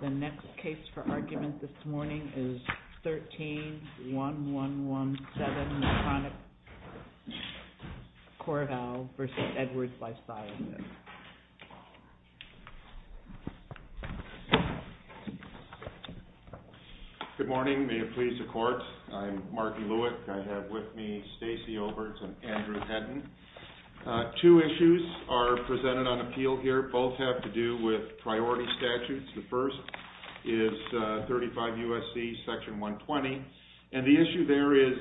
The next case for argument this morning is 13-1117 McConaughey-Corvall v. Edwards v. Edwards. I'm Mark Lewick and I have with me Stacey Overtz and Andrew Henton. Two issues are presented on appeal here, both have to do with priority statutes. The first is 35 U.S.C. section 120 and the issue there is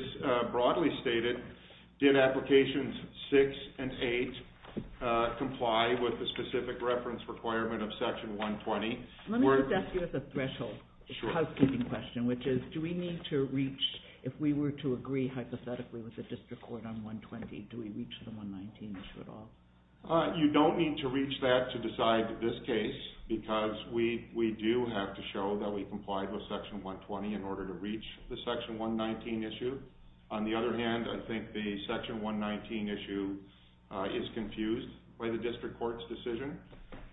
broadly stated, did applications 6 and 8 comply with the specific reference requirement of section 120? Let me put that to you as a threshold, a housekeeping question, which is do we need to reach, if we were to agree hypothetically with the district court on 120, do we reach the 119 issue at all? You don't need to reach that to decide this case because we do have to show that we complied with section 120 in order to reach the section 119 issue. On the other hand, I think the section 119 issue is confused by the district court's decision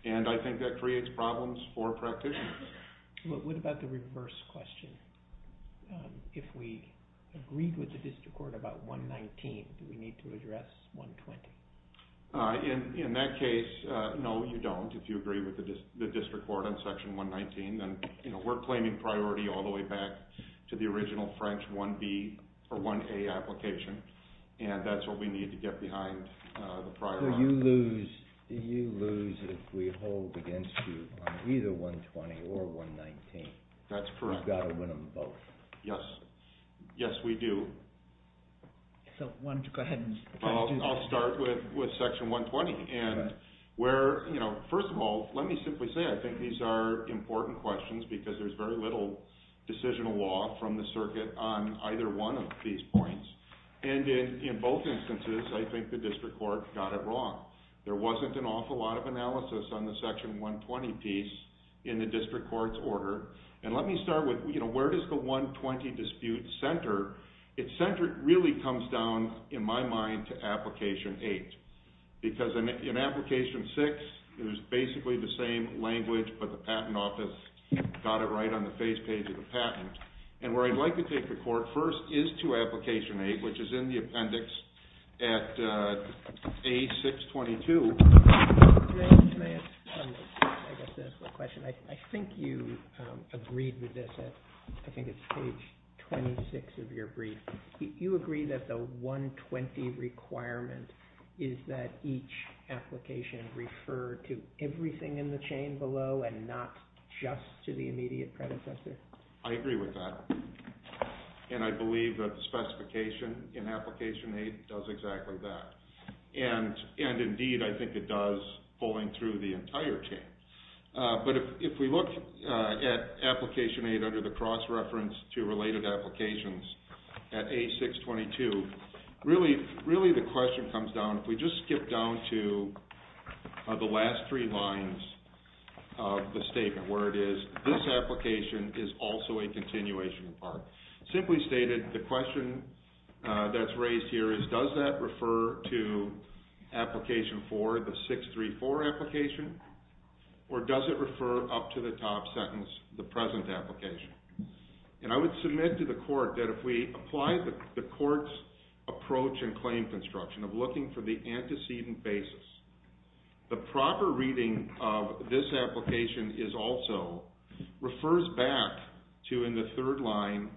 and I think that creates problems for practitioners. What about the reverse question? If we agreed with the district court about 119, do we need to address 120? In that case, no you don't, if you agree with the district court on section 119, then we're claiming priority all the way back to the original French 1B or 1A application and that's what we need to get behind the prior one. So you lose if we hold against you on either 120 or 119? That's correct. You've got to win them both. Yes, yes we do. So why don't you go ahead and... I'll start with section 120 and where, first of all, let me simply say I think these are very little decisional law from the circuit on either one of these points and in both instances, I think the district court got it wrong. There wasn't an awful lot of analysis on the section 120 piece in the district court's order and let me start with, you know, where does the 120 dispute center? Its center really comes down, in my mind, to application eight because in application six, it was basically the same language but the patent office got it right on the face page of the patent and where I'd like to take the court first is to application eight, which is in the appendix at A622. May I ask a question? I think you agreed with this, I think it's page 26 of your brief. You agree that the 120 requirement is that each application refer to everything in the chain below and not just to the immediate predecessor? I agree with that and I believe that the specification in application eight does exactly that and indeed I think it does pulling through the entire chain but if we look at application eight under the cross reference to related applications at A622, really the question comes down, if we just skip down to the last three lines of the statement where it is, this application is also a continuation part. Simply stated, the question that's raised here is does that refer to application four, the 634 application, or does it refer up to the top sentence, the present application? And I would submit to the court that if we apply the court's approach and claim construction of looking for the antecedent basis, the proper reading of this application is also, refers back to in the third line,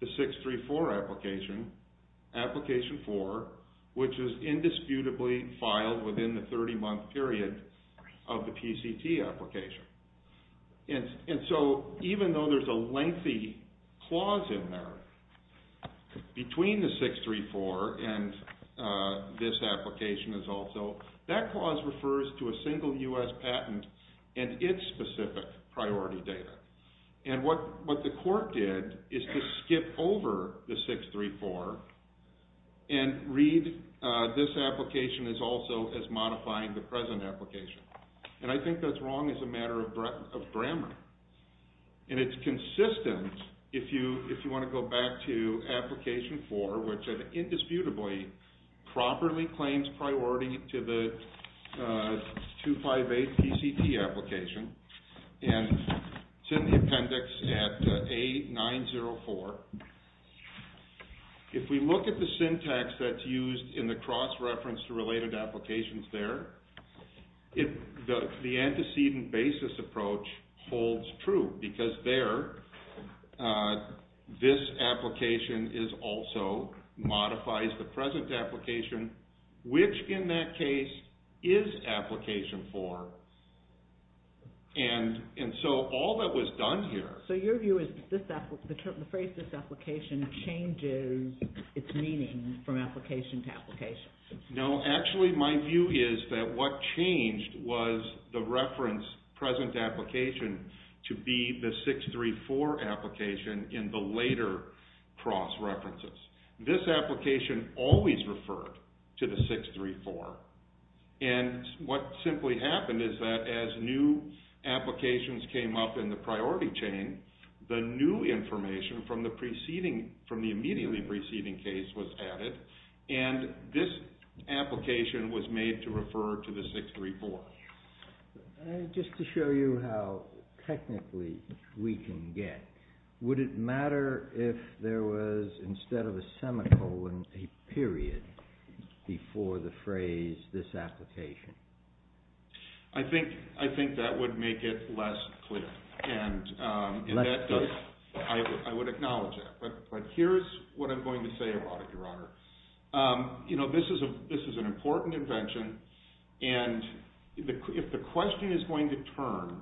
the 634 application, application four, which is indisputably filed within the 30 month period of the PCT application. And so even though there's a lengthy clause in there between the 634 and this application is also, that clause refers to a single U.S. patent and its specific priority data. And what the court did is to skip over the 634 and read this application as also as modifying the present application. And I think that's wrong as a matter of grammar. And it's consistent if you want to go back to application four, which indisputably properly claims priority to the 258 PCT application. And it's in the appendix at A904. If we look at the syntax that's used in the cross-reference to related applications there, the antecedent basis approach holds true because there, this application is also, modifies the present application, which in that case is application four. And so all that was done here... So your view is the phrase this application changes its meaning from application to application. No, actually my view is that what changed was the reference present application to be the 634 application in the later cross-references. This application always referred to the 634. And what simply happened is that as new applications came up in the priority chain, the new information from the immediately preceding case was added. And this application was made to refer to the 634. Just to show you how technically we can get, would it matter if there was, instead of a semicolon, a period before the phrase this application? I think that would make it less clear. And I would acknowledge that. But here's what I'm going to say about it, Your Honor. You know, this is an important invention. And if the question is going to turn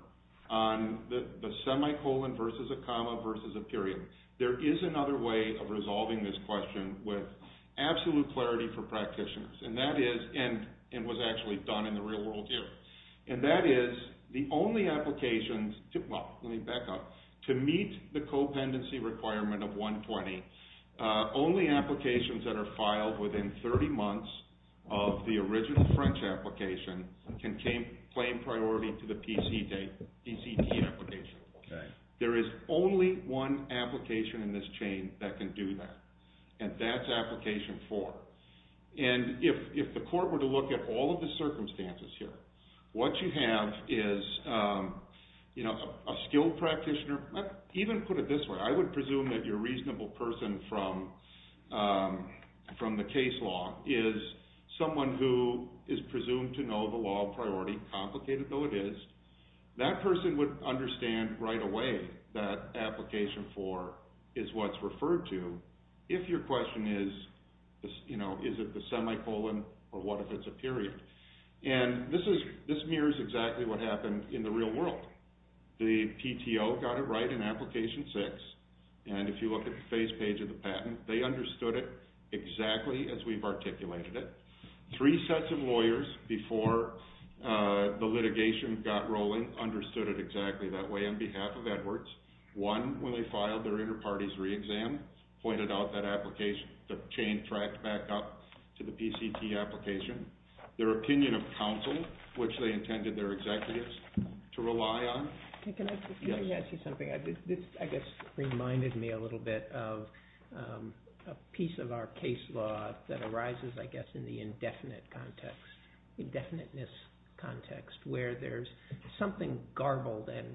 on the semicolon versus a comma versus a period, there is another way of resolving this question with absolute clarity for practitioners. And that is, and was actually done in the real world here. And that is, the only applications, well, let me back up, to meet the co-pendency requirement of 120, only applications that are filed within 30 months of the original French application can claim priority to the PCT application. There is only one application in this chain that can do that. And that's application 4. And if the court were to look at all of the circumstances here, what you have is, you know, a skilled practitioner, even put it this way, I would presume that your reasonable person from the case law is someone who is presumed to know the law of priority, complicated though it is. That person would understand right away that application 4 is what's referred to if your question is, you know, is it the semicolon or what if it's a period. And this mirrors exactly what happened in the real world. The PTO got it right in application 6. And if you look at the face page of the patent, they understood it exactly as we've articulated it. Three sets of lawyers before the litigation got rolling understood it exactly that way on behalf of Edwards. One, when they filed their inter-parties re-exam, pointed out that application, the chain tracked back up to the PCT application. Their opinion of counsel, which they intended their executives to rely on. Can I ask you something? This, I guess, reminded me a little bit of a piece of our case law that arises, I guess, in the indefinite context, indefiniteness context, where there's something garbled and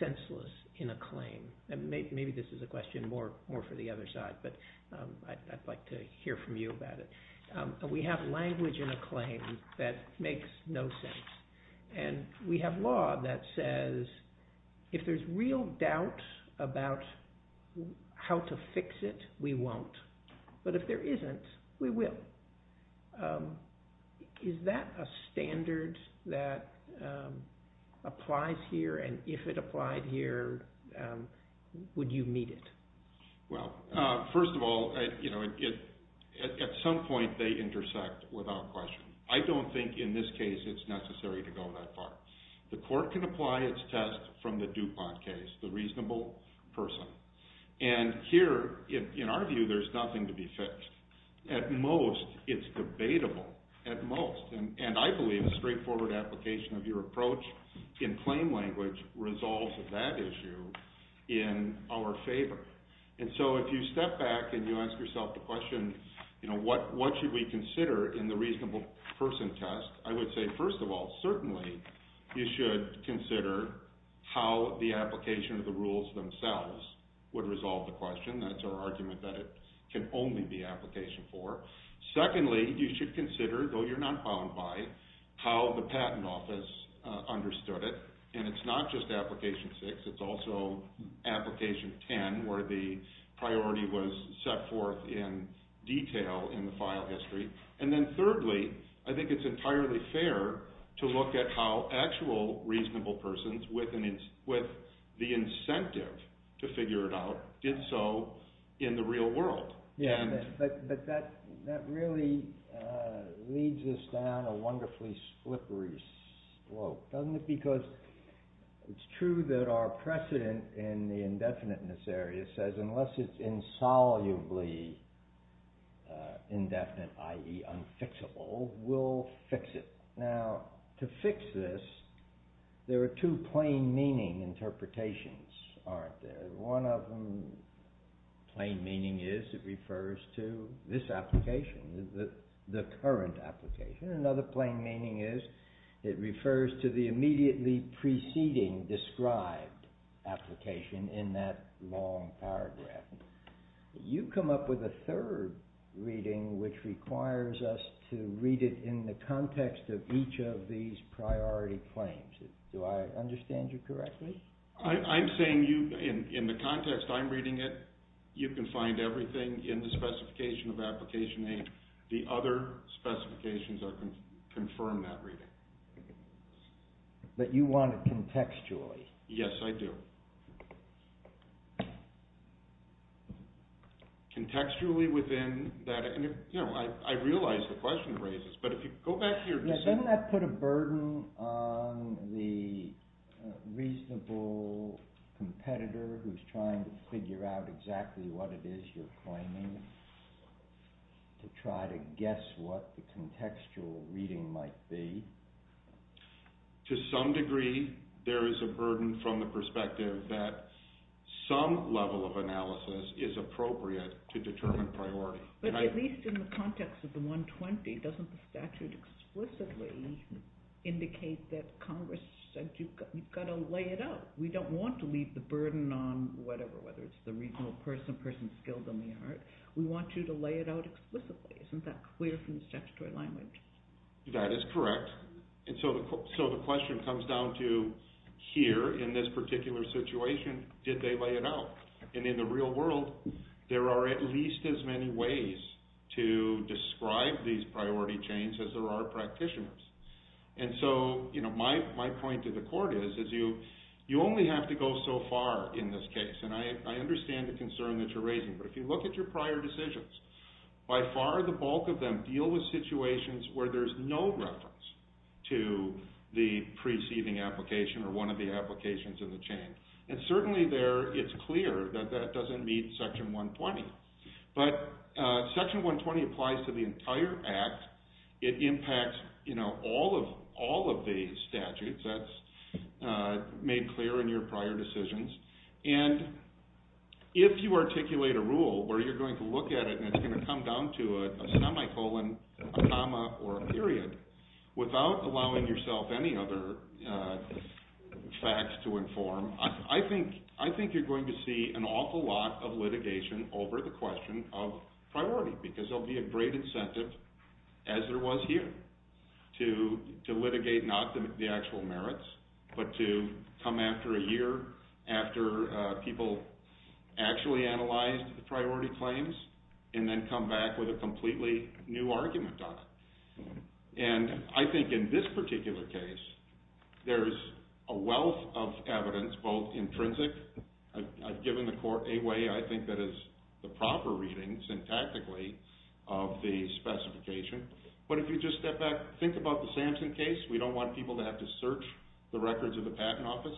senseless in a claim. Maybe this is a question more for the other side, but I'd like to hear from you about it. We have language in a claim that makes no sense. And we have law that says, if there's real doubt about how to fix it, we won't. But if there isn't, we will. Is that a standard that applies here? And if it applied here, would you meet it? Well, first of all, at some point they intersect without question. I don't think in this case it's necessary to go that far. The court can apply its test from the DuPont case, the reasonable person. And here, in our view, there's nothing to be fixed. At most, it's debatable, at most. And I believe a straightforward application of your approach in claim language resolves that issue in our favor. And so if you step back and you ask yourself the question, you know, what should we consider in the reasonable person test? I would say, first of all, certainly you should consider how the application of the rules themselves would resolve the question. That's our argument that it can only be application four. Secondly, you should consider, though you're not bound by, how the patent office understood it. And it's not just application six. It's also application ten, where the priority was set forth in detail in the file history. And then thirdly, I think it's entirely fair to look at how actual reasonable persons, with the incentive to figure it out, did so in the real world. But that really leads us down a wonderfully slippery slope, doesn't it? Because it's true that our precedent in the indefiniteness area says unless it's insolubly indefinite, i.e. unfixable, we'll fix it. Now, to fix this, there are two plain meaning interpretations, aren't there? One of them, plain meaning is, it refers to this application, the current application. Another plain meaning is, it refers to the immediately preceding described application in that long paragraph. You come up with a third reading which requires us to read it in the context of each of these priority claims. Do I understand you correctly? I'm saying you, in the context I'm reading it, you can find everything in the specification of application A. The other specifications confirm that reading. But you want it contextually? Yes, I do. Contextually within that, and I realize the question raises, but if you go back to your discussion. Doesn't that put a burden on the reasonable competitor who's trying to figure out exactly what it is you're claiming to try to guess what the contextual reading might be? To some degree, there is a burden from the perspective that some level of analysis is appropriate to determine priority. But at least in the context of the 120, doesn't the statute explicitly indicate that Congress said you've got to lay it out? We don't want to leave the burden on whatever, whether it's the reasonable person, person skilled in the art. We want you to lay it out explicitly. Isn't that clear from the statutory language? That is correct. And so the question comes down to here in this particular situation, did they lay it out? And in the real world, there are at least as many ways to describe these priority chains as there are practitioners. And so my point to the court is you only have to go so far in this case, and I understand the concern that you're raising. But if you look at your prior decisions, by far the bulk of them deal with situations where there's no reference to the preceding application or one of the applications in the chain. And certainly it's clear that that doesn't meet Section 120. But Section 120 applies to the entire act. It impacts, you know, all of the statutes. That's made clear in your prior decisions. And if you articulate a rule where you're going to look at it and it's going to come down to a semicolon, a comma, or a period without allowing yourself any other facts to inform, I think you're going to see an awful lot of litigation over the question of priority because there will be a great incentive, as there was here, to litigate not the actual merits but to come after a year after people actually analyzed the priority claims and then come back with a completely new argument on it. And I think in this particular case, there's a wealth of evidence, both intrinsic. I've given the court a way I think that is the proper reading, syntactically, of the specification. But if you just step back, think about the Samson case. We don't want people to have to search the records of the Patent Office.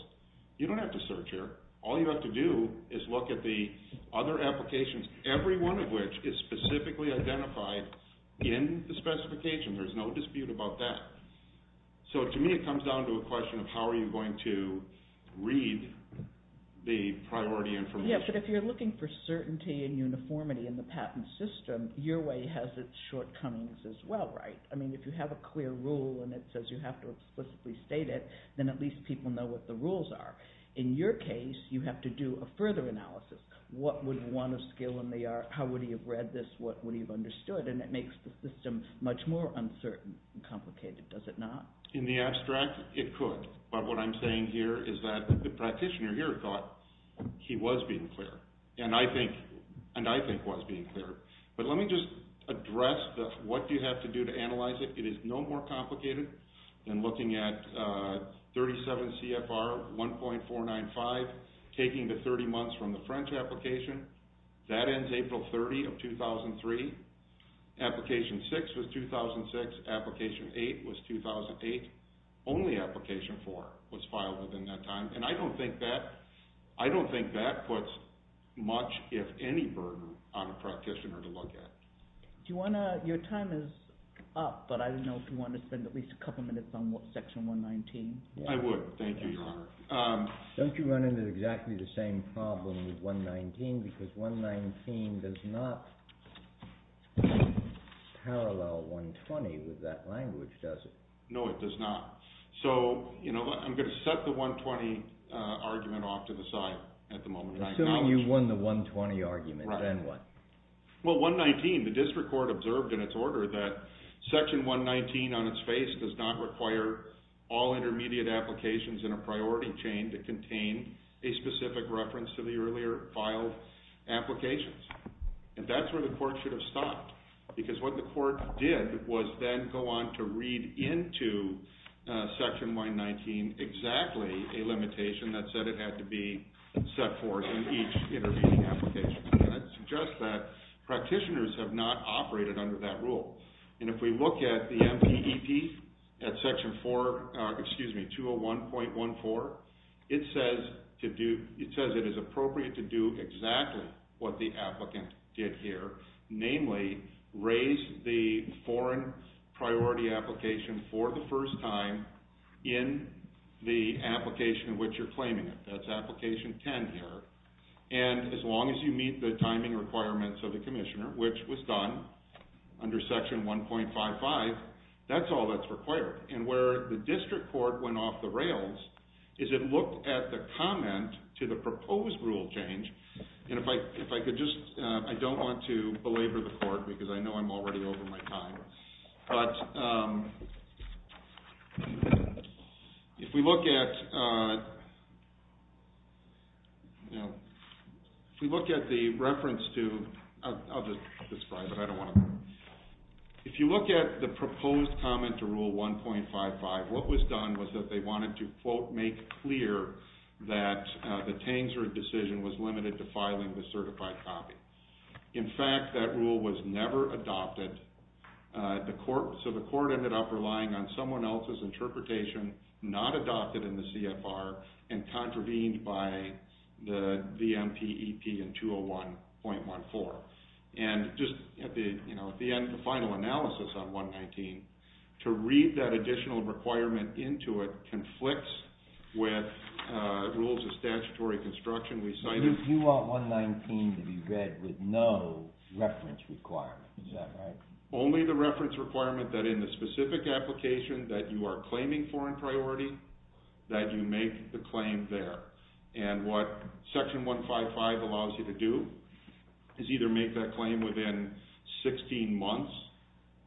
You don't have to search here. All you have to do is look at the other applications, every one of which is specifically identified in the specification. There's no dispute about that. So, to me, it comes down to a question of how are you going to read the priority information. Yeah, but if you're looking for certainty and uniformity in the patent system, your way has its shortcomings as well, right? I mean, if you have a clear rule and it says you have to explicitly state it, then at least people know what the rules are. In your case, you have to do a further analysis. What would one of skill and they are? How would he have read this? What would he have understood? And it makes the system much more uncertain and complicated, does it not? In the abstract, it could. But what I'm saying here is that the practitioner here thought he was being clear, and I think was being clear. But let me just address what you have to do to analyze it. It is no more complicated than looking at 37 CFR 1.495, taking the 30 months from the French application. That ends April 30 of 2003. Application 6 was 2006. Application 8 was 2008. Only application 4 was filed within that time. And I don't think that puts much, if any, burden on a practitioner to look at. Do you want to – your time is up, but I don't know if you want to spend at least a couple minutes on Section 119. I would. Thank you, Your Honor. Don't you run into exactly the same problem with 119? Because 119 does not parallel 120 with that language, does it? No, it does not. So I'm going to set the 120 argument off to the side at the moment. Assuming you won the 120 argument, then what? Well, 119, the district court observed in its order that Section 119 on its face does not require all intermediate applications in a priority chain to contain a specific reference to the earlier filed applications. And that's where the court should have stopped, because what the court did was then go on to read into Section 119 exactly a limitation that said it had to be set forth in each intermediate application. And that suggests that practitioners have not operated under that rule. And if we look at the MPEP at Section 401.14, it says it is appropriate to do exactly what the applicant did here, namely raise the foreign priority application for the first time in the application in which you're claiming it. That's Application 10 here. And as long as you meet the timing requirements of the commissioner, which was done under Section 1.55, that's all that's required. And where the district court went off the rails is it looked at the comment to the proposed rule change. And if I could just – I don't want to belabor the court, because I know I'm already over my time. But if we look at the reference to – I'll just describe it. I don't want to – if you look at the proposed comment to Rule 1.55, what was done was that they wanted to, quote, make clear that the Tanger decision was limited to filing the certified copy. In fact, that rule was never adopted. So the court ended up relying on someone else's interpretation, not adopted in the CFR, and contravened by the MPEP in 201.14. And just at the end, the final analysis on 119, to read that additional requirement into it conflicts with rules of statutory construction. If you want 119 to be read with no reference requirement, is that right? Only the reference requirement that in the specific application that you are claiming foreign priority, that you make the claim there. And what Section 1.55 allows you to do is either make that claim within 16 months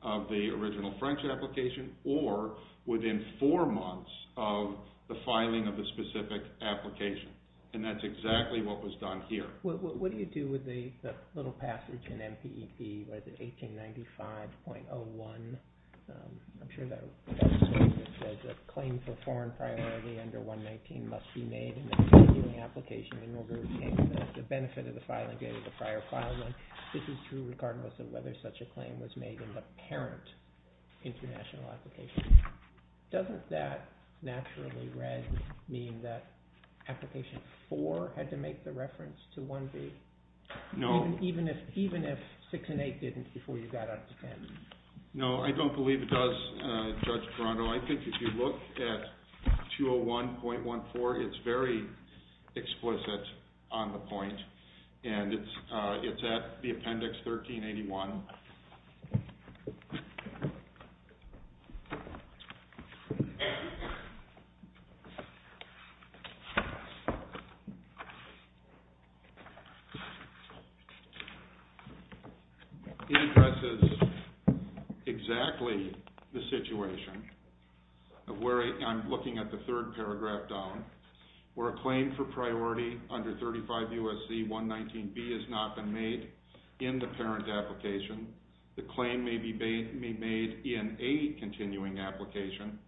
of the original French application, or within four months of the filing of the specific application. And that's exactly what was done here. What do you do with the little passage in MPEP, what is it, 1895.01? I'm sure that says that claim for foreign priority under 119 must be made in the particular application in order to take the benefit of the filing date of the prior filing. This is true regardless of whether such a claim was made in the parent international application. Doesn't that, naturally read, mean that application 4 had to make the reference to 1B? No. Even if 6 and 8 didn't before you got up to 10? No, I don't believe it does, Judge Perando. I think if you look at 201.14, it's very explicit on the point. And it's at the appendix 1381. And it addresses exactly the situation. I'm looking at the third paragraph down. Where a claim for priority under 35 U.S.C. 119B has not been made in the parent application, the claim may be made in a continuing application,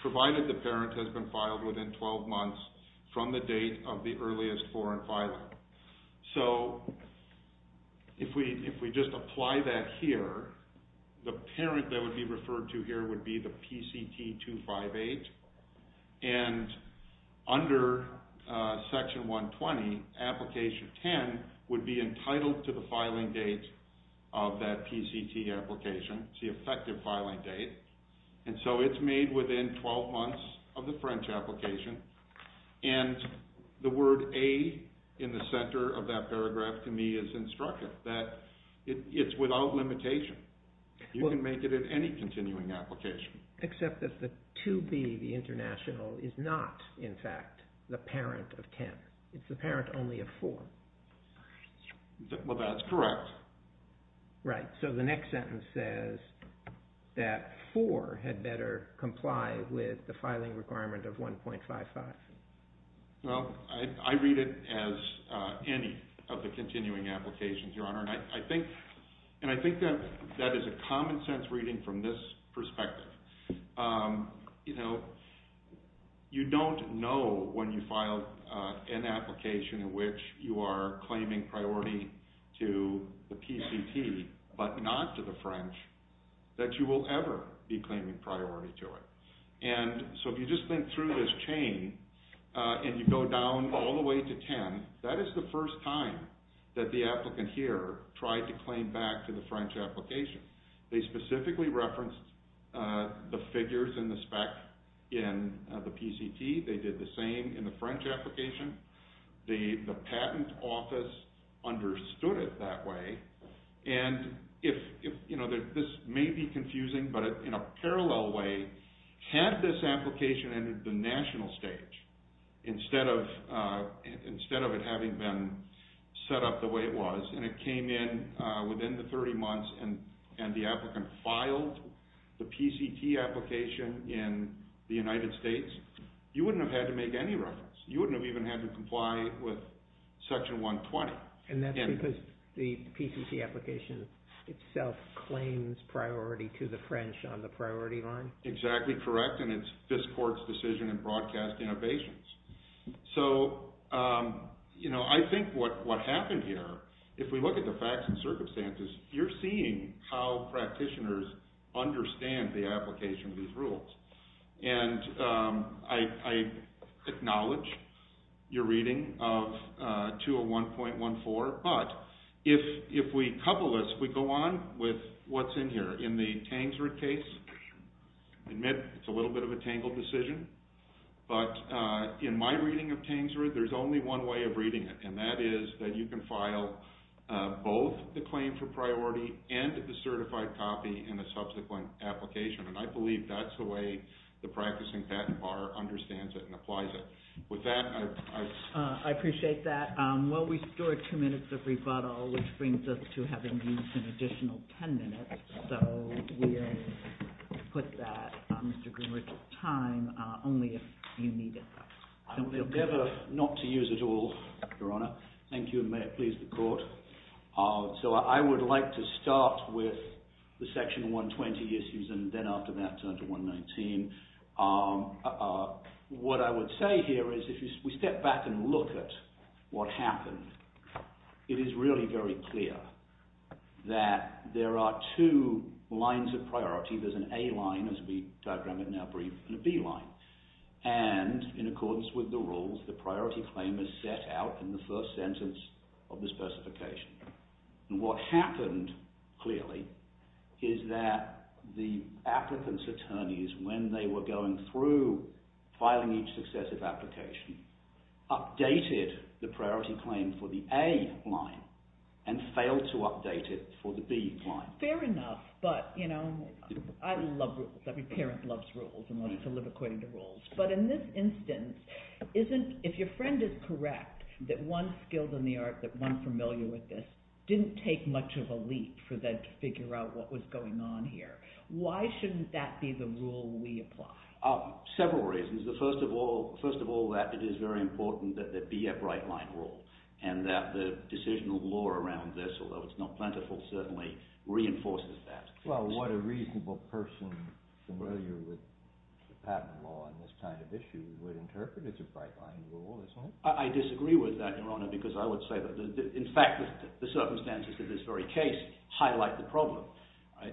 provided the parent has been filed within 12 months from the date of the earliest foreign filing. So if we just apply that here, the parent that would be referred to here would be the PCT258. And under Section 120, application 10 would be entitled to the filing date of that PCT application. It's the effective filing date. And so it's made within 12 months of the French application. And the word A in the center of that paragraph to me is instructive. That it's without limitation. You can make it at any continuing application. Except that the 2B, the international, is not, in fact, the parent of 10. It's the parent only of 4. Well, that's correct. Right. So the next sentence says that 4 had better comply with the filing requirement of 1.55. Well, I read it as any of the continuing applications, Your Honor. And I think that is a common sense reading from this perspective. You know, you don't know when you filed an application in which you are claiming priority to the PCT but not to the French that you will ever be claiming priority to it. And so if you just think through this chain and you go down all the way to 10, that is the first time that the applicant here tried to claim back to the French application. They specifically referenced the figures and the spec in the PCT. They did the same in the French application. The patent office understood it that way. And this may be confusing, but in a parallel way, had this application entered the national stage instead of it having been set up the way it was and it came in within the 30 months and the applicant filed the PCT application in the United States, you wouldn't have had to make any reference. You wouldn't have even had to comply with Section 120. And that's because the PCT application itself claims priority to the French on the priority line? Exactly correct, and it's Fiscourt's decision in Broadcast Innovations. So, you know, I think what happened here, if we look at the facts and circumstances, you're seeing how practitioners understand the application of these rules. And I acknowledge your reading of 201.14, but if we couple this, we go on with what's in here. In the Tangsrud case, I admit it's a little bit of a tangled decision, but in my reading of Tangsrud, there's only one way of reading it, and that is that you can file both the claim for priority and the certified copy in a subsequent application. And I believe that's the way the practicing patent bar understands it and applies it. With that, I... I appreciate that. Well, we store two minutes of rebuttal, which brings us to having used an additional 10 minutes. So we'll put that, Mr. Greenwich, at a time only if you need it. I would prefer not to use it at all, Your Honor. Thank you, and may it please the Court. So I would like to start with the Section 120 issues and then after that turn to 119. What I would say here is if we step back and look at what happened, it is really very clear that there are two lines of priority. There's an A line, as we diagram it now briefly, and a B line. And in accordance with the rules, the priority claim is set out in the first sentence of the specification. And what happened, clearly, is that the applicant's attorneys, when they were going through filing each successive application, updated the priority claim for the A line and failed to update it for the B line. Fair enough, but, you know, I love rules. Every parent loves rules and wants to live according to rules. But in this instance, if your friend is correct that one skilled in the art, that one familiar with this, didn't take much of a leap for them to figure out what was going on here, why shouldn't that be the rule we apply? Several reasons. First of all, that it is very important that there be a bright-line rule and that the decisional law around this, although it's not plentiful, certainly reinforces that. Well, what a reasonable person familiar with patent law and this kind of issue would interpret as a bright-line rule. I disagree with that, Your Honor, because I would say that, in fact, the circumstances of this very case highlight the problem.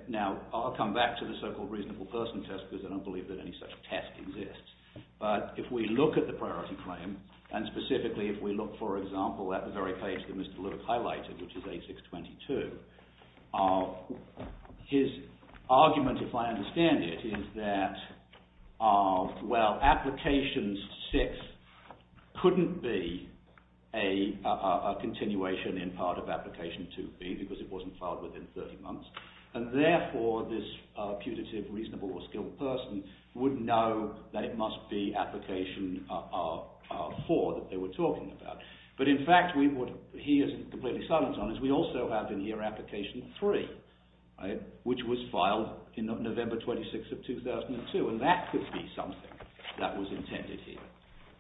Now, I'll come back to the so-called reasonable person test because I don't believe that any such test exists. But if we look at the priority claim, and specifically if we look, for example, at the very page that Mr. Lillick highlighted, which is A622, his argument, if I understand it, is that, well, application 6 couldn't be a continuation in part of application 2B because it wasn't filed within 30 months, and therefore this putative, reasonable, or skilled person would know that it must be application 4 that they were talking about. But, in fact, he is completely silent on this. We also have in here application 3, which was filed in November 26th of 2002, and that could be something that was intended here.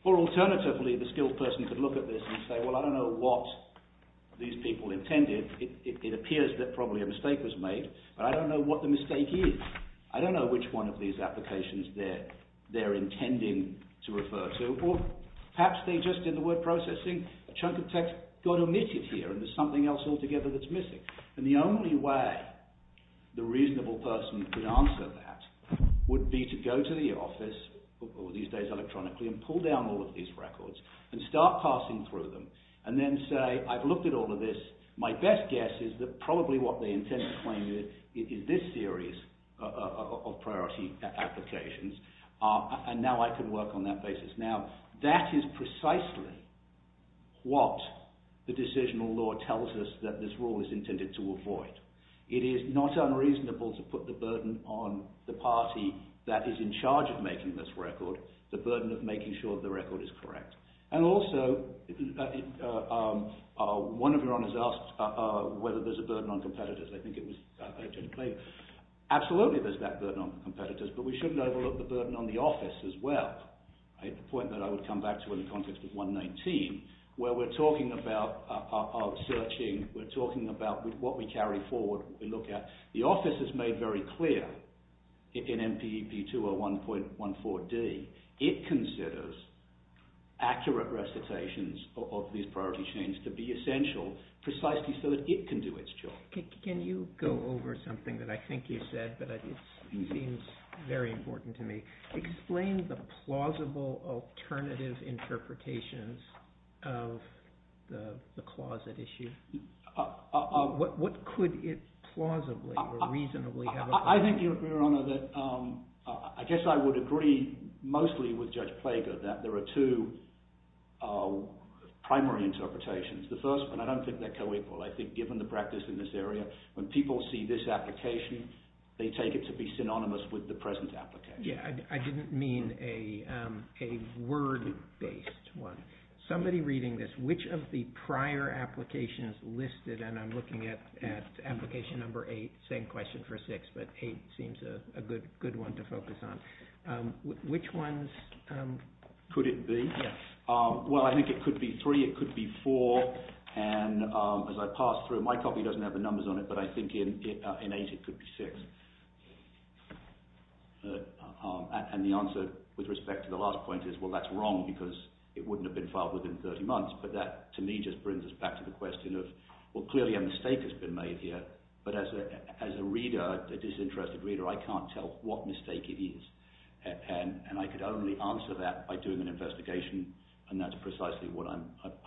Or, alternatively, the skilled person could look at this and say, well, I don't know what these people intended. It appears that probably a mistake was made, but I don't know what the mistake is. I don't know which one of these applications they're intending to refer to. Or perhaps they just, in the word processing, a chunk of text got omitted here and there's something else altogether that's missing. And the only way the reasonable person could answer that would be to go to the office, these days electronically, and pull down all of these records and start passing through them and then say, I've looked at all of this. My best guess is that probably what they intend to claim is this series of priority applications, and now I can work on that basis. Now, that is precisely what the decisional law tells us that this rule is intended to avoid. It is not unreasonable to put the burden on the party that is in charge of making this record, the burden of making sure the record is correct. And also, one of your Honours asked whether there's a burden on competitors. I think it was allegedly claimed. Absolutely there's that burden on competitors, but we shouldn't overlook the burden on the office as well, at the point that I would come back to in the context of 119, where we're talking about searching, we're talking about what we carry forward, what we look at. The office has made very clear in MPEP 201.14d, it considers accurate recitations of these priority chains to be essential precisely so that it can do its job. Can you go over something that I think you said, but it seems very important to me. Explain the plausible alternative interpretations of the closet issue. What could it plausibly or reasonably have a place in? I think you'll agree, Your Honour, that I guess I would agree mostly with Judge Plague that there are two primary interpretations. The first one, I don't think they're co-equal. I think given the practice in this area, when people see this application, they take it to be synonymous with the present application. I didn't mean a word-based one. Somebody reading this, which of the prior applications listed, and I'm looking at application number 8, same question for 6, but 8 seems a good one to focus on. Which ones? Could it be? Well, I think it could be 3, it could be 4, and as I pass through, my copy doesn't have the numbers on it, but I think in 8 it could be 6. And the answer with respect to the last point is, well, that's wrong, because it wouldn't have been filed within 30 months, but that to me just brings us back to the question of, well, clearly a mistake has been made here, but as a reader, a disinterested reader, I can't tell what mistake it is, and I could only answer that by doing an investigation, and that's precisely what I'm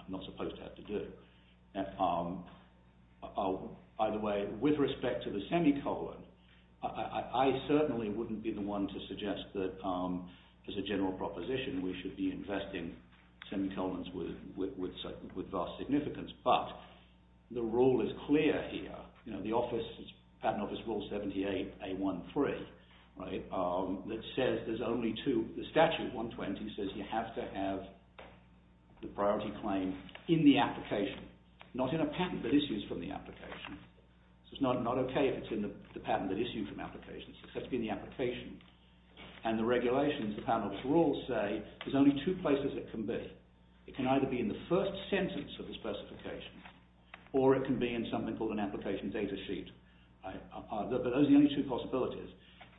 not supposed to have to do. Either way, with respect to the semicolon, I certainly wouldn't be the one to suggest that, as a general proposition, we should be investing semicolons with vast significance, but the rule is clear here. You know, the Patent Office Rule 78A13, right, that says there's only two. The Statute 120 says you have to have the priority claim in the application. Not in a patent, but issues from the application. So it's not okay if it's in the patent that issues from applications. It has to be in the application. And the regulations, the Patent Office Rules, say there's only two places it can be. It can either be in the first sentence of the specification, or it can be in something called an application data sheet. But those are the only two possibilities.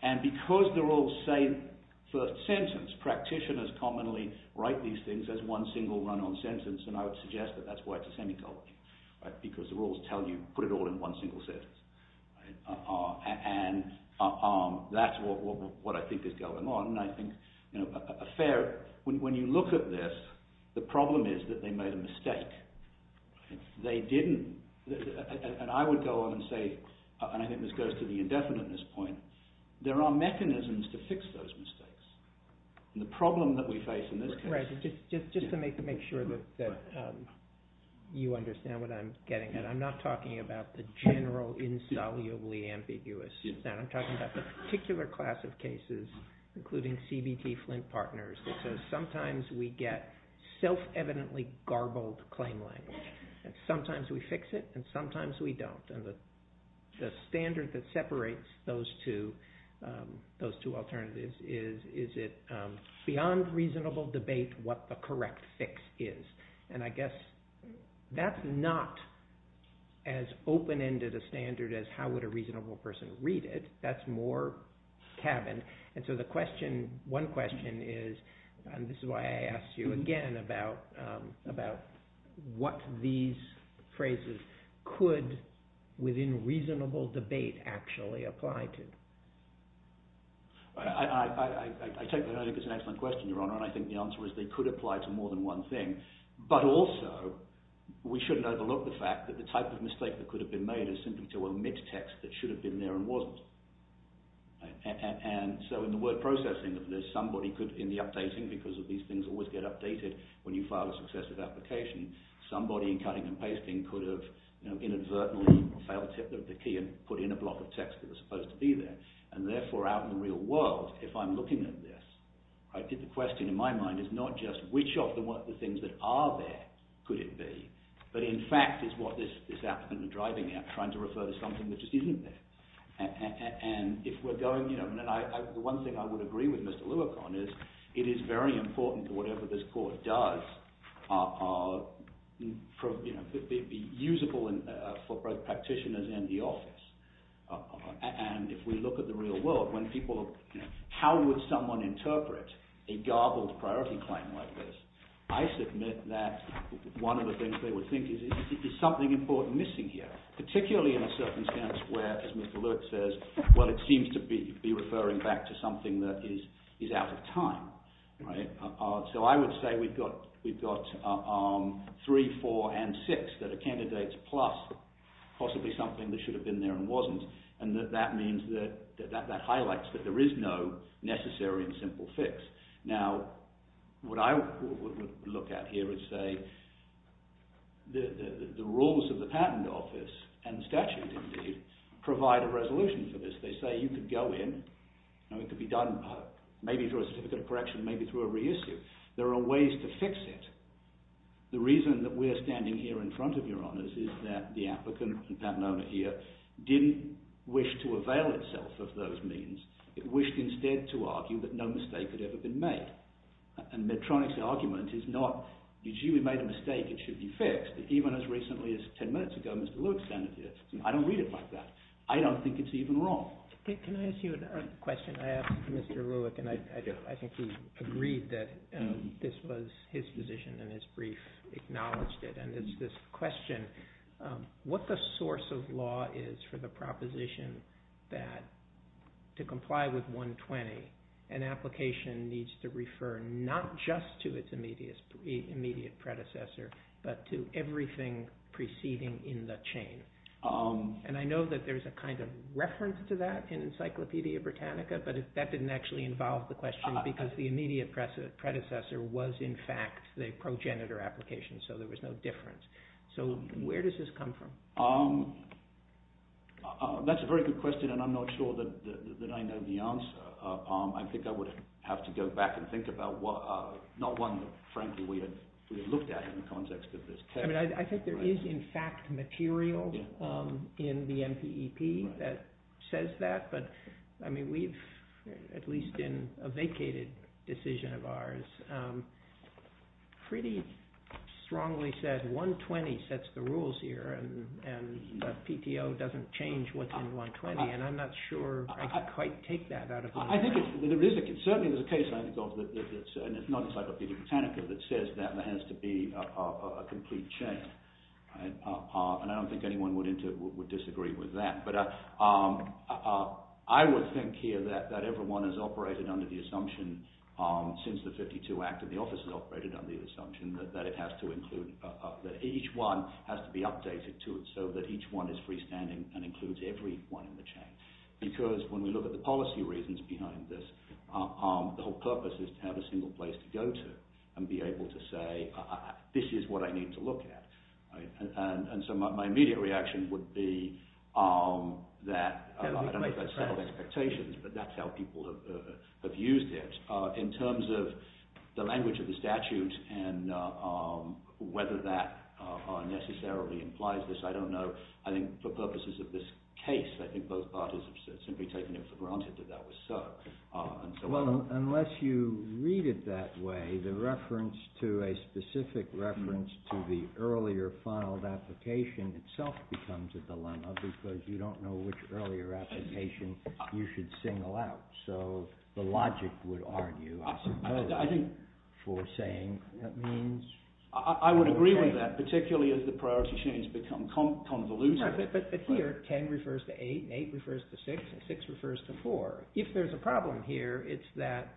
And because they're all the same first sentence, practitioners commonly write these things as one single run-on sentence, and I would suggest that that's why it's a semicolon. Because the rules tell you put it all in one single sentence. And that's what I think is going on. And I think, you know, a fair... When you look at this, the problem is that they made a mistake. If they didn't... And I would go on and say, and I think this goes to the indefinite at this point, there are mechanisms to fix those mistakes. And the problem that we face in this case... Fred, just to make sure that you understand what I'm getting at, I'm not talking about the general insolubly ambiguous. I'm talking about the particular class of cases, including CBT-Flint partners, that says sometimes we get self-evidently garbled claim language. And sometimes we fix it, and sometimes we don't. And the standard that separates those two alternatives is it beyond reasonable debate what the correct fix is. And I guess that's not as open-ended a standard as how would a reasonable person read it. That's more cabin. And so the question... One question is, and this is why I asked you again, about what these phrases could, within reasonable debate, actually apply to. I take that as an excellent question, Your Honour, and I think the answer is they could apply to more than one thing. But also, we shouldn't overlook the fact that the type of mistake that could have been made is simply to omit text that should have been there and wasn't. And so in the word processing of this, somebody could, in the updating, because these things always get updated when you file a successive application, somebody in cutting and pasting could have inadvertently or failed to hit the key and put in a block of text that was supposed to be there. And therefore, out in the real world, if I'm looking at this, I think the question in my mind is not just which of the things that are there could it be, but in fact is what this applicant is driving at, trying to refer to something that just isn't there. And if we're going... The one thing I would agree with Mr Leucon is it is very important that whatever this court does be usable for both practitioners and the office. And if we look at the real world, how would someone interpret a garbled priority claim like this? I submit that one of the things they would think is there's something important missing here, particularly in a circumstance where, as Mr Leucon says, well, it seems to be referring back to something that is out of time. So I would say we've got 3, 4, and 6 that are candidates plus possibly something that should have been there and wasn't. And that means that that highlights that there is no necessary and simple fix. Now, what I would look at here is, say, the rules of the patent office and statute, indeed, provide a resolution for this. They say you could go in and it could be done maybe through a certificate of correction, maybe through a reissue. There are ways to fix it. The reason that we're standing here in front of your Honours is that the applicant, the patent owner here, didn't wish to avail itself of those means. It wished instead to argue that no mistake had ever been made. And Medtronic's argument is not, gee, we made a mistake, it should be fixed. Even as recently as 10 minutes ago, Mr Leucon said it here. I don't read it like that. I don't think it's even wrong. Can I ask you a question? I asked Mr Leucon, and I think he agreed that this was his position and his brief acknowledged it. And it's this question, what the source of law is for the proposition that to comply with 120, an application needs to refer not just to its immediate predecessor, but to everything preceding in the chain. And I know that there's a kind of reference to that in Encyclopædia Britannica, but that didn't actually involve the question because the immediate predecessor was in fact the progenitor application, so there was no difference. So where does this come from? That's a very good question, and I'm not sure that I know the answer. I think I would have to go back and think about not one that frankly we had looked at in the context of this case. I think there is in fact material in the NPEP that says that, but we've, at least in a vacated decision of ours, pretty strongly said 120 sets the rules here, and the PTO doesn't change what's in 120, and I'm not sure I can quite take that out of context. I think there is a case, and it's not Encyclopædia Britannica, that says that there has to be a complete chain, and I don't think anyone would disagree with that. But I would think here that everyone has operated under the assumption since the 1952 Act that the office has operated under the assumption that it has to include, that each one has to be updated to it so that each one is freestanding and includes everyone in the chain. Because when we look at the policy reasons behind this, the whole purpose is to have a single place to go to, and be able to say, this is what I need to look at. And so my immediate reaction would be that, I don't have a set of expectations, but that's how people have used it. In terms of the language of the statute and whether that necessarily implies this, I don't know. I think for purposes of this case, I think both parties have simply taken it for granted that that was so. Well, unless you read it that way, the reference to a specific reference to the earlier filed application itself becomes a dilemma because you don't know which earlier application you should single out. So the logic would argue, I suppose, for saying that means... I would agree with that, particularly as the priority chains become convoluted. But here, 10 refers to 8 and 8 refers to 6 and 6 refers to 4. If there's a problem here, it's that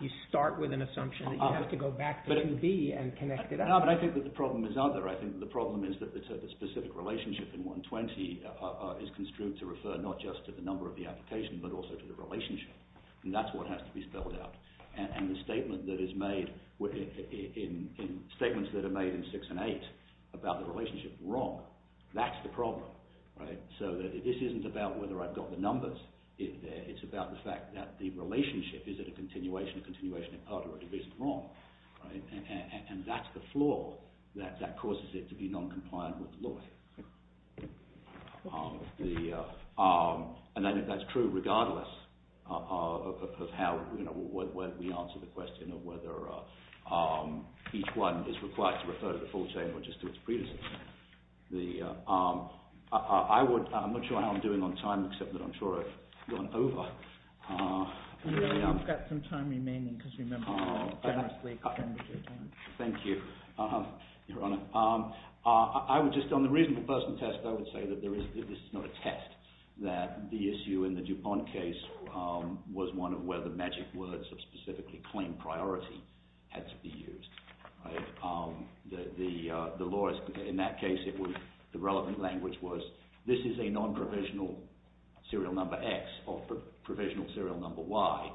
you start with an assumption that you have to go back to 2B and connect it up. No, but I think that the problem is other. I think the problem is that the specific relationship in 120 is construed to refer not just to the number of the application but also to the relationship. And that's what has to be spelled out. And the statement that is made, statements that are made in 6 and 8 about the relationship, wrong. That's the problem. So this isn't about whether I've got the numbers in there. It's about the fact that the relationship, is it a continuation, a continuation of other, or is it wrong? And that's the flaw that causes it to be non-compliant with the law. And I think that's true regardless of how we answer the question of whether each one is required to refer to the full chain or just to its predecessor. I would, I'm not sure how I'm doing on time except that I'm sure I've gone over. No, you've got some time remaining because you remember to generously extend your time. Thank you, Your Honor. I would just, on the reasonable person test, I would say that this is not a test, that the issue in the DuPont case was one of whether magic words of specifically claimed priority had to be used. The lawyers, in that case, the relevant language was this is a non-provisional serial number X or provisional serial number Y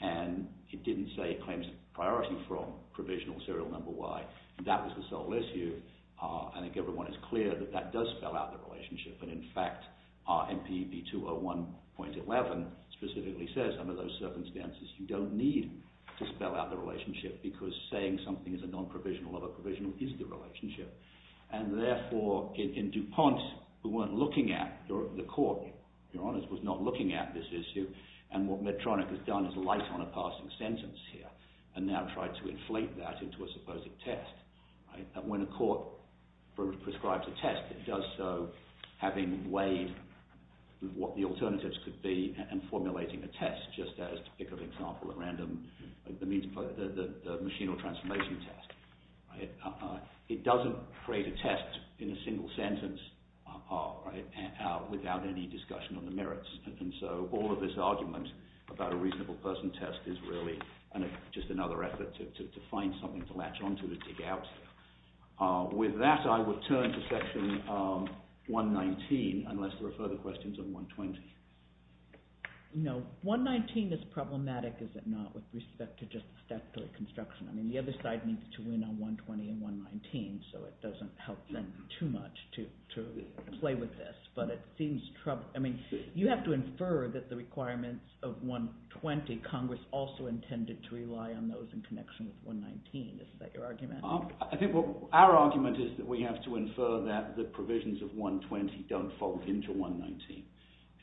and it didn't say it claims priority from provisional serial number Y. That was the sole issue. I think everyone is clear that that does spell out the relationship and in fact, MPB 201.11 specifically says under those circumstances you don't need to spell out the relationship because saying something is a non-provisional of a provisional is the relationship. And therefore, in DuPont, we weren't looking at, the court, Your Honor, was not looking at this issue and what Medtronic has done is light on a passing sentence here and now tried to inflate that into a supposed test. When a court prescribes a test, it does so having weighed what the alternatives could be and formulating a test just as, to pick an example at random, the machine or transformation test. It doesn't create a test in a single sentence without any discussion on the merits and so all of this argument about a reasonable person test is really just another effort to find something to latch onto to dig out. With that, I would turn to section 119 unless there are further questions on 120. No. 119 is problematic, is it not, with respect to just the statutory construction. I mean, the other side needs to win on 120 and 119 so it doesn't help them too much to play with this. But it seems troubling. I mean, you have to infer that the requirements of 120, Congress also intended to rely on those in connection with 119. Is that your argument? I think our argument is that we have to infer that the provisions of 120 don't fold into 119.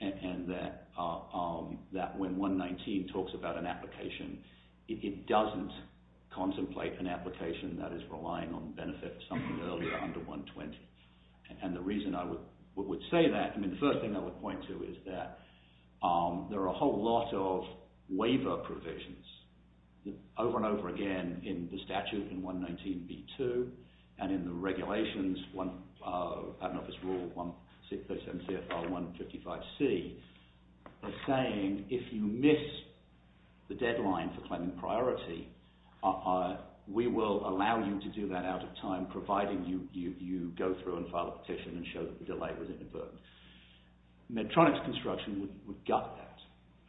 And that when 119 talks about an application, it doesn't contemplate an application that is relying on the benefit of something earlier under 120. And the reason I would say that, I mean, the first thing I would point to is that there are a whole lot of waiver provisions over and over again in the statute in 119b2 and in the regulations, Patent Office Rule 135C, are saying if you miss the deadline for claiming priority, we will allow you to do that out of time providing you go through and file a petition and show that the delay was inadvertent. Medtronic's construction would gut that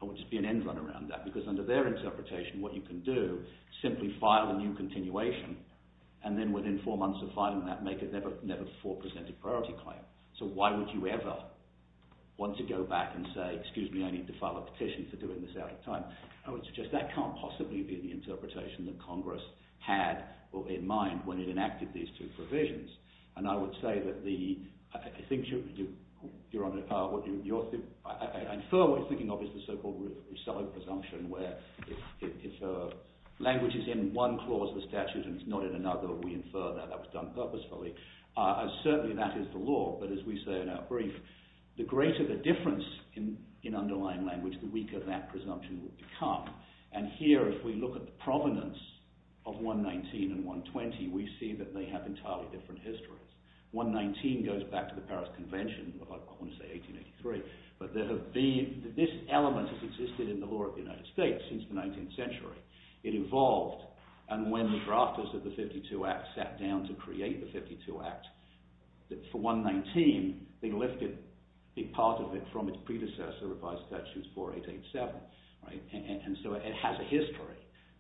and would just be an end run around that because under their interpretation, what you can do, simply file a new continuation and then within four months of filing that make a never-before-presented priority claim. So why would you ever want to go back and say, excuse me, I need to file a petition for doing this out of time? I would suggest that can't possibly be the interpretation that Congress had in mind when it enacted these two provisions. And I would say that the, I think you're under, I infer what you're thinking of is the so-called Roussello presumption where if language is in one clause of the statute and it's not in another, we infer that that was done purposefully, certainly that is the law, but as we say in our brief, the greater the difference in underlying language, the weaker that presumption will become. And here, if we look at the provenance of 119 and 120, we see that they have entirely different histories. 119 goes back to the Paris Convention of, I want to say, 1883, but there have been, this element has existed in the law of the United States since the 19th century. It evolved, and when the drafters of the 52 Act sat down to create the 52 Act, for 119, they lifted a part of it from its predecessor, Revised Statutes 4887, and so it has a history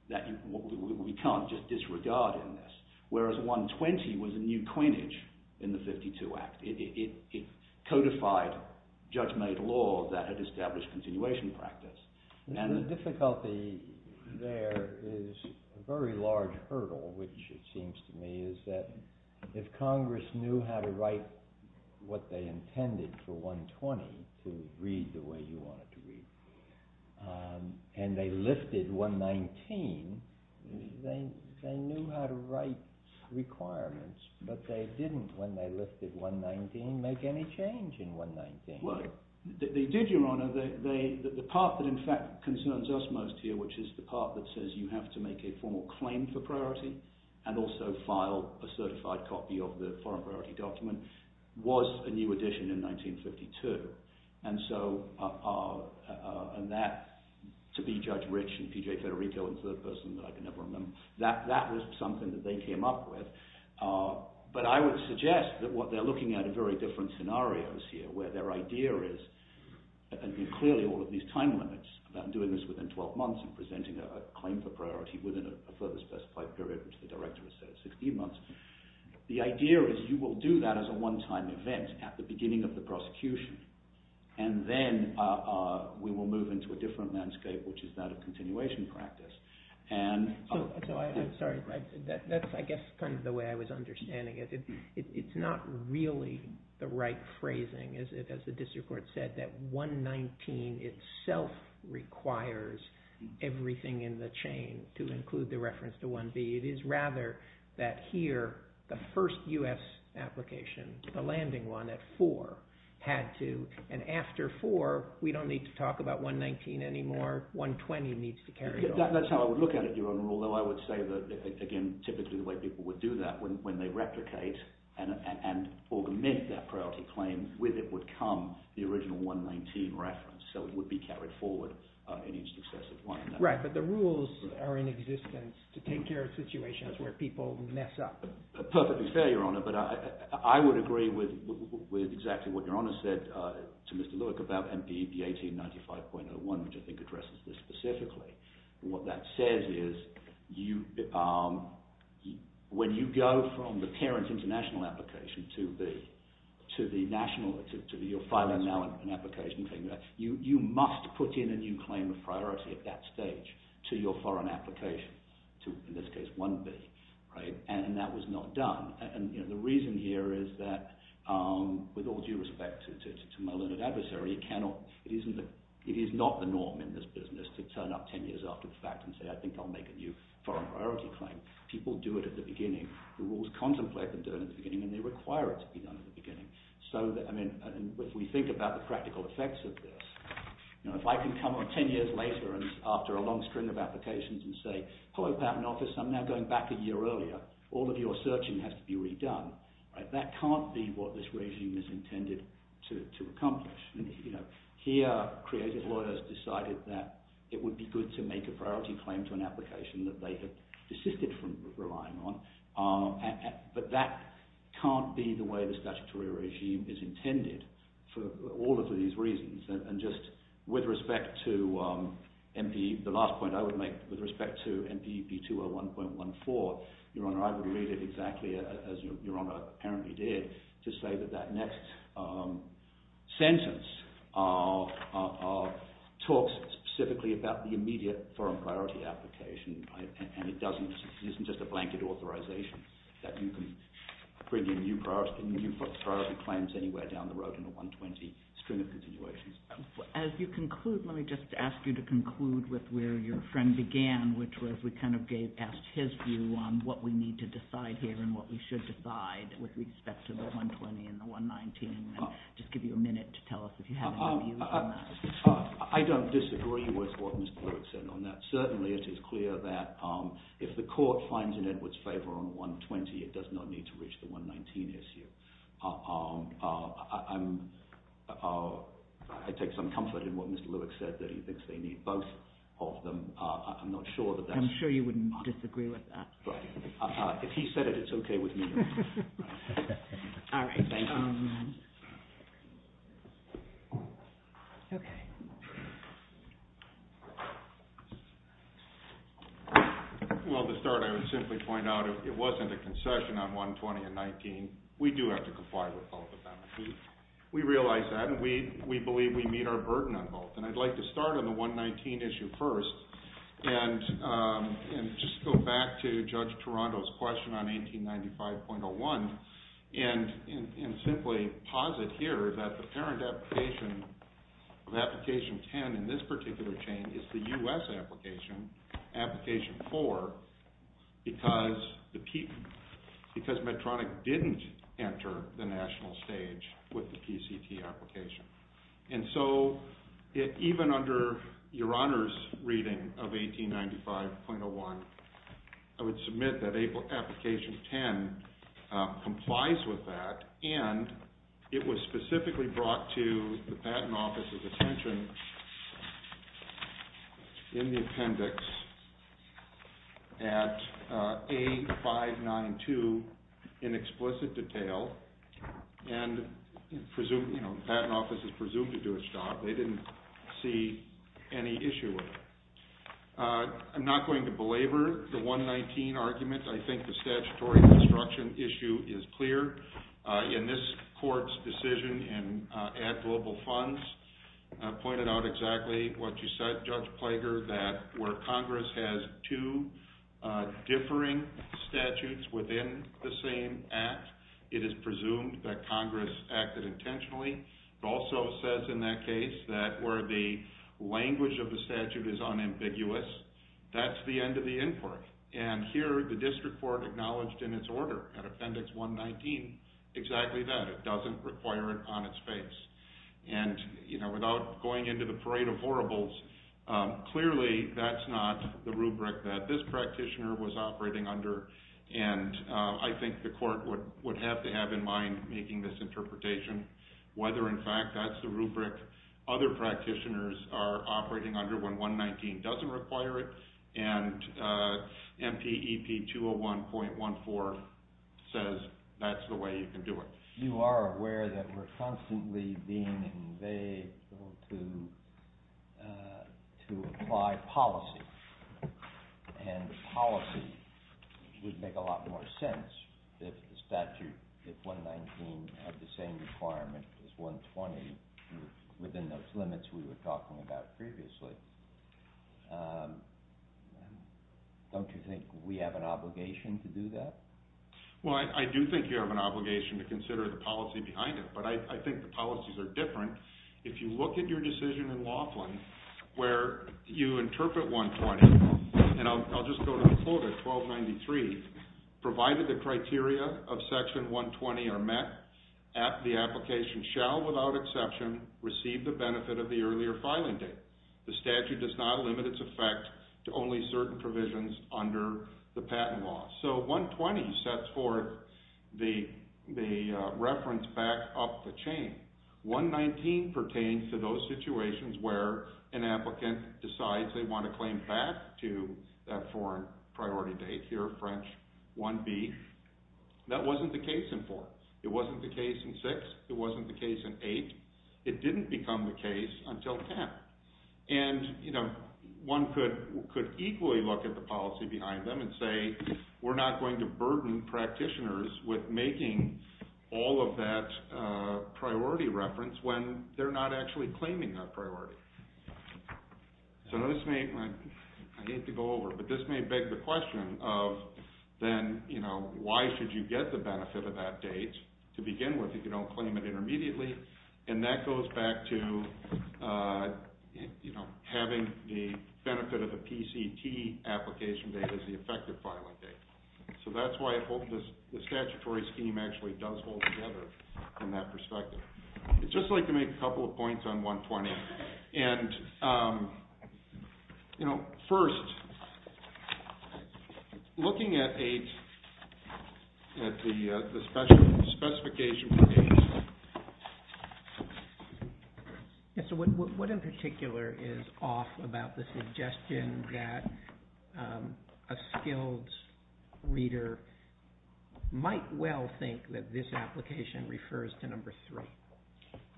that we can't just disregard in this, whereas 120 was a new quinnage in the 52 Act. It codified judge-made law that had established continuation practice. The difficulty there is a very large hurdle, which it seems to me is that if Congress knew how to write what they intended for 120 to read the way you want it to read, and they lifted 119, they knew how to write requirements, but they didn't, when they lifted 119, make any change in 119. They did, Your Honor. The part that in fact concerns us most here, which is the part that says you have to make a formal claim for priority, and also file a certified copy of the foreign priority document, was a new addition in 1952, and that, to be Judge Rich and P.J. Federico and third person that I can never remember, that was something that they came up with, but I would suggest that what they're looking at are very different scenarios here, where their idea is, and clearly all of these time limits about doing this within 12 months and presenting a claim for priority within a further specified period, which the Director has said is 16 months. The idea is you will do that as a one-time event at the beginning of the prosecution, and then we will move into a different landscape, which is that of continuation practice. So I'm sorry. That's I guess kind of the way I was understanding it. It's not really the right phrasing, as the district court said, that 119 itself requires everything in the chain to include the reference to 1B. It is rather that here, the first U.S. application, the landing one at four, had to, and after four, we don't need to talk about 119 anymore. 120 needs to carry on. That's how I would look at it, Your Honor, although I would say that, again, typically the way people would do that when they replicate and augment that priority claim, with it would come the original 119 reference, so it would be carried forward in each successive one. Right, but the rules are in existence to take care of situations where people mess up. Perfectly fair, Your Honor, but I would agree with exactly what Your Honor said to Mr. Lewick about MPB 1895.01, which I think addresses this specifically. What that says is when you go from the parent international application to the national, to your filing now and application thing, you must put in a new claim of priority at that stage to your foreign application, to, in this case, 1B, right, and that was not done, and the reason here is that, with all due respect to my learned adversary, it is not the norm in this business to turn up 10 years after the fact and say I think I'll make a new foreign priority claim. People do it at the beginning. The rules contemplate them doing it at the beginning and they require it to be done at the beginning, so that, I mean, if we think about the practical effects of this, if I can come on 10 years later after a long string of applications and say, hello, Patent Office, I'm now going back a year earlier, all of your searching has to be redone, that can't be what this regime is intended to accomplish. Here, creative lawyers decided that it would be good to make a priority claim to an application that they had desisted from relying on, but that can't be the way the statutory regime is intended for all of these reasons, and just with respect to MPE, the last point I would make with respect to MPE B201.14, Your Honour, I would read it exactly as Your Honour apparently did, to say that that next sentence talks specifically about the immediate foreign priority application and it isn't just a blanket authorization that you can bring in new priority claims anywhere down the road in the 120 string of continuations. As you conclude, let me just ask you to conclude with where your friend began, which was we kind of gave past his view on what we need to decide here and what we should decide with respect to the 120 and the 119, and just give you a minute to tell us if you have any views on that. I don't disagree with what Mr. Lewick said on that. Certainly it is clear that if the court finds in Edward's favour on 120, it does not need to reach the 119 issue. I take some comfort in what Mr. Lewick said, that he thinks they need both of them. I'm not sure that that's... I'm sure you wouldn't disagree with that. If he said it, it's okay with me. Well, to start, I would simply point out if it wasn't a concession on 120 and 119, we do have to comply with both of them. We realize that and we believe we meet our burden on both. And I'd like to start on the 119 issue first and just go back to Judge Toronto's question on 1895.01 and simply posit here that the parent application of application 10 in this particular chain is the US application, application 4, because Medtronic didn't enter the national stage with the PCT application. And so, even under Your Honour's reading of 1895.01, I would submit that application 10 complies with that and it was specifically brought to the Patent Office's attention in the appendix at A592 in explicit detail and the Patent Office is presumed to do its job. They didn't see any issue with it. I'm not going to belabor the 119 argument. I think the statutory construction issue is clear. In this court's decision in Add Global Funds, pointed out exactly what you said, Judge Plager, that where Congress has two differing statutes within the same act, it is presumed that Congress acted intentionally. It also says in that case that where the language of the statute is unambiguous, that's the end of the inquiry. And here, the District Court acknowledged in its order at Appendix 119 exactly that. It doesn't require it on its face. And without going into the parade of horribles, clearly that's not the rubric that this practitioner was operating under. And I think the court would have to have in mind making this interpretation, whether in fact that's the rubric other practitioners are operating under when 119 doesn't require it and MPEP 201.14 says that's the way you can do it. You are aware that we're constantly being invaded to apply policy. And policy would make a lot more sense if the statute, if 119 had the same requirement as 120 within those limits we were talking about previously. Don't you think we have an obligation to do that? Well, I do think you have an obligation to consider the policy behind it, but I think the policies are different. If you look at your decision in Laughlin where you interpret 120, and I'll just go to the quote at 1293, provided the criteria of Section 120 are met, the application shall without exception receive the benefit of the earlier filing date. The statute does not limit its effect to only certain provisions under the patent law. So 120 sets forth the reference back up the chain. 119 pertains to those situations where an applicant decides they want to claim back to that foreign priority date here, French 1B. That wasn't the case in 4. It wasn't the case in 6. It wasn't the case in 8. It didn't become the case until 10. And one could equally look at the policy behind them and say we're not going to burden practitioners with making all of that priority reference when they're not actually claiming that priority. So this may... I hate to go over, but this may beg the question of then, you know, why should you get the benefit of that date to begin with if you don't claim it intermediately? And that goes back to, you know, having the benefit of the PCT application date as the effective filing date. So that's why I hope the statutory scheme actually does hold together from that perspective. I'd just like to make a couple of points on 120. And, you know, first, looking at 8, at the specification for 8... Yes, so what in particular is off about the suggestion that a skilled reader might well think that this application refers to number 3?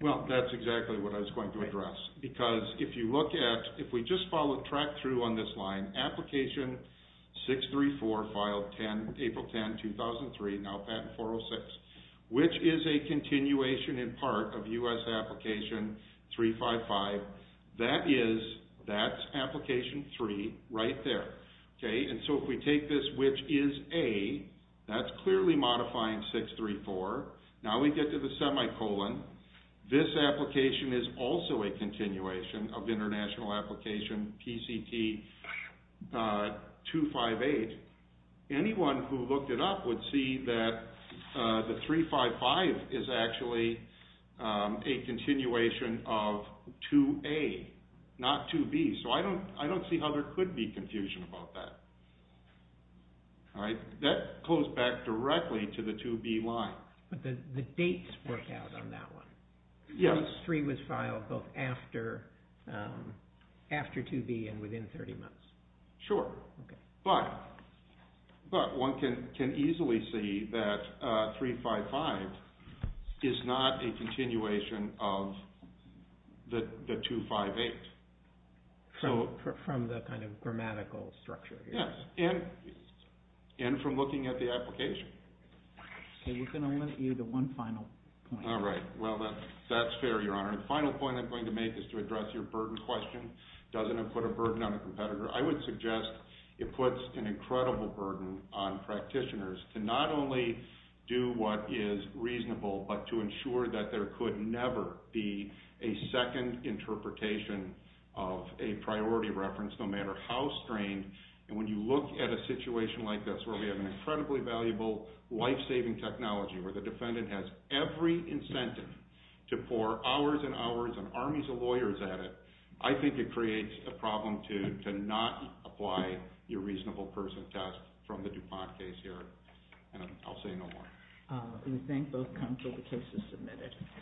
Well, that's exactly what I was going to address. Because if you look at... if we just follow track through on this line, application 634 filed April 10, 2003, now patent 406, which is a continuation in part of U.S. application 355, that is... that's application 3 right there. Okay, and so if we take this, which is A, that's clearly modifying 634. Now we get to the semicolon. This application is also a continuation of international application PCT 258. Anyone who looked it up would see that the 355 is actually a continuation of 2A, not 2B. So I don't see how there could be confusion about that. That goes back directly to the 2B line. But the dates work out on that one. Yes. Case 3 was filed both after 2B and within 30 months. Sure. But one can easily see that 355 is not a continuation of the 258. From the kind of grammatical structure here. Yes, and from looking at the application. Okay, we're going to limit you to one final point. All right. Well, that's fair, Your Honor. The final point I'm going to make is to address your burden question. Doesn't it put a burden on a competitor? I would suggest it puts an incredible burden on practitioners to not only do what is reasonable, but to ensure that there could never be a second interpretation of a priority reference, no matter how strained. And when you look at a situation like this where we have an incredibly valuable life-saving technology where the defendant has every incentive to pour hours and hours and armies of lawyers at it, I think it creates a problem to not apply your reasonable person test from the DuPont case here. And I'll say no more. We thank both counsel. The case is submitted.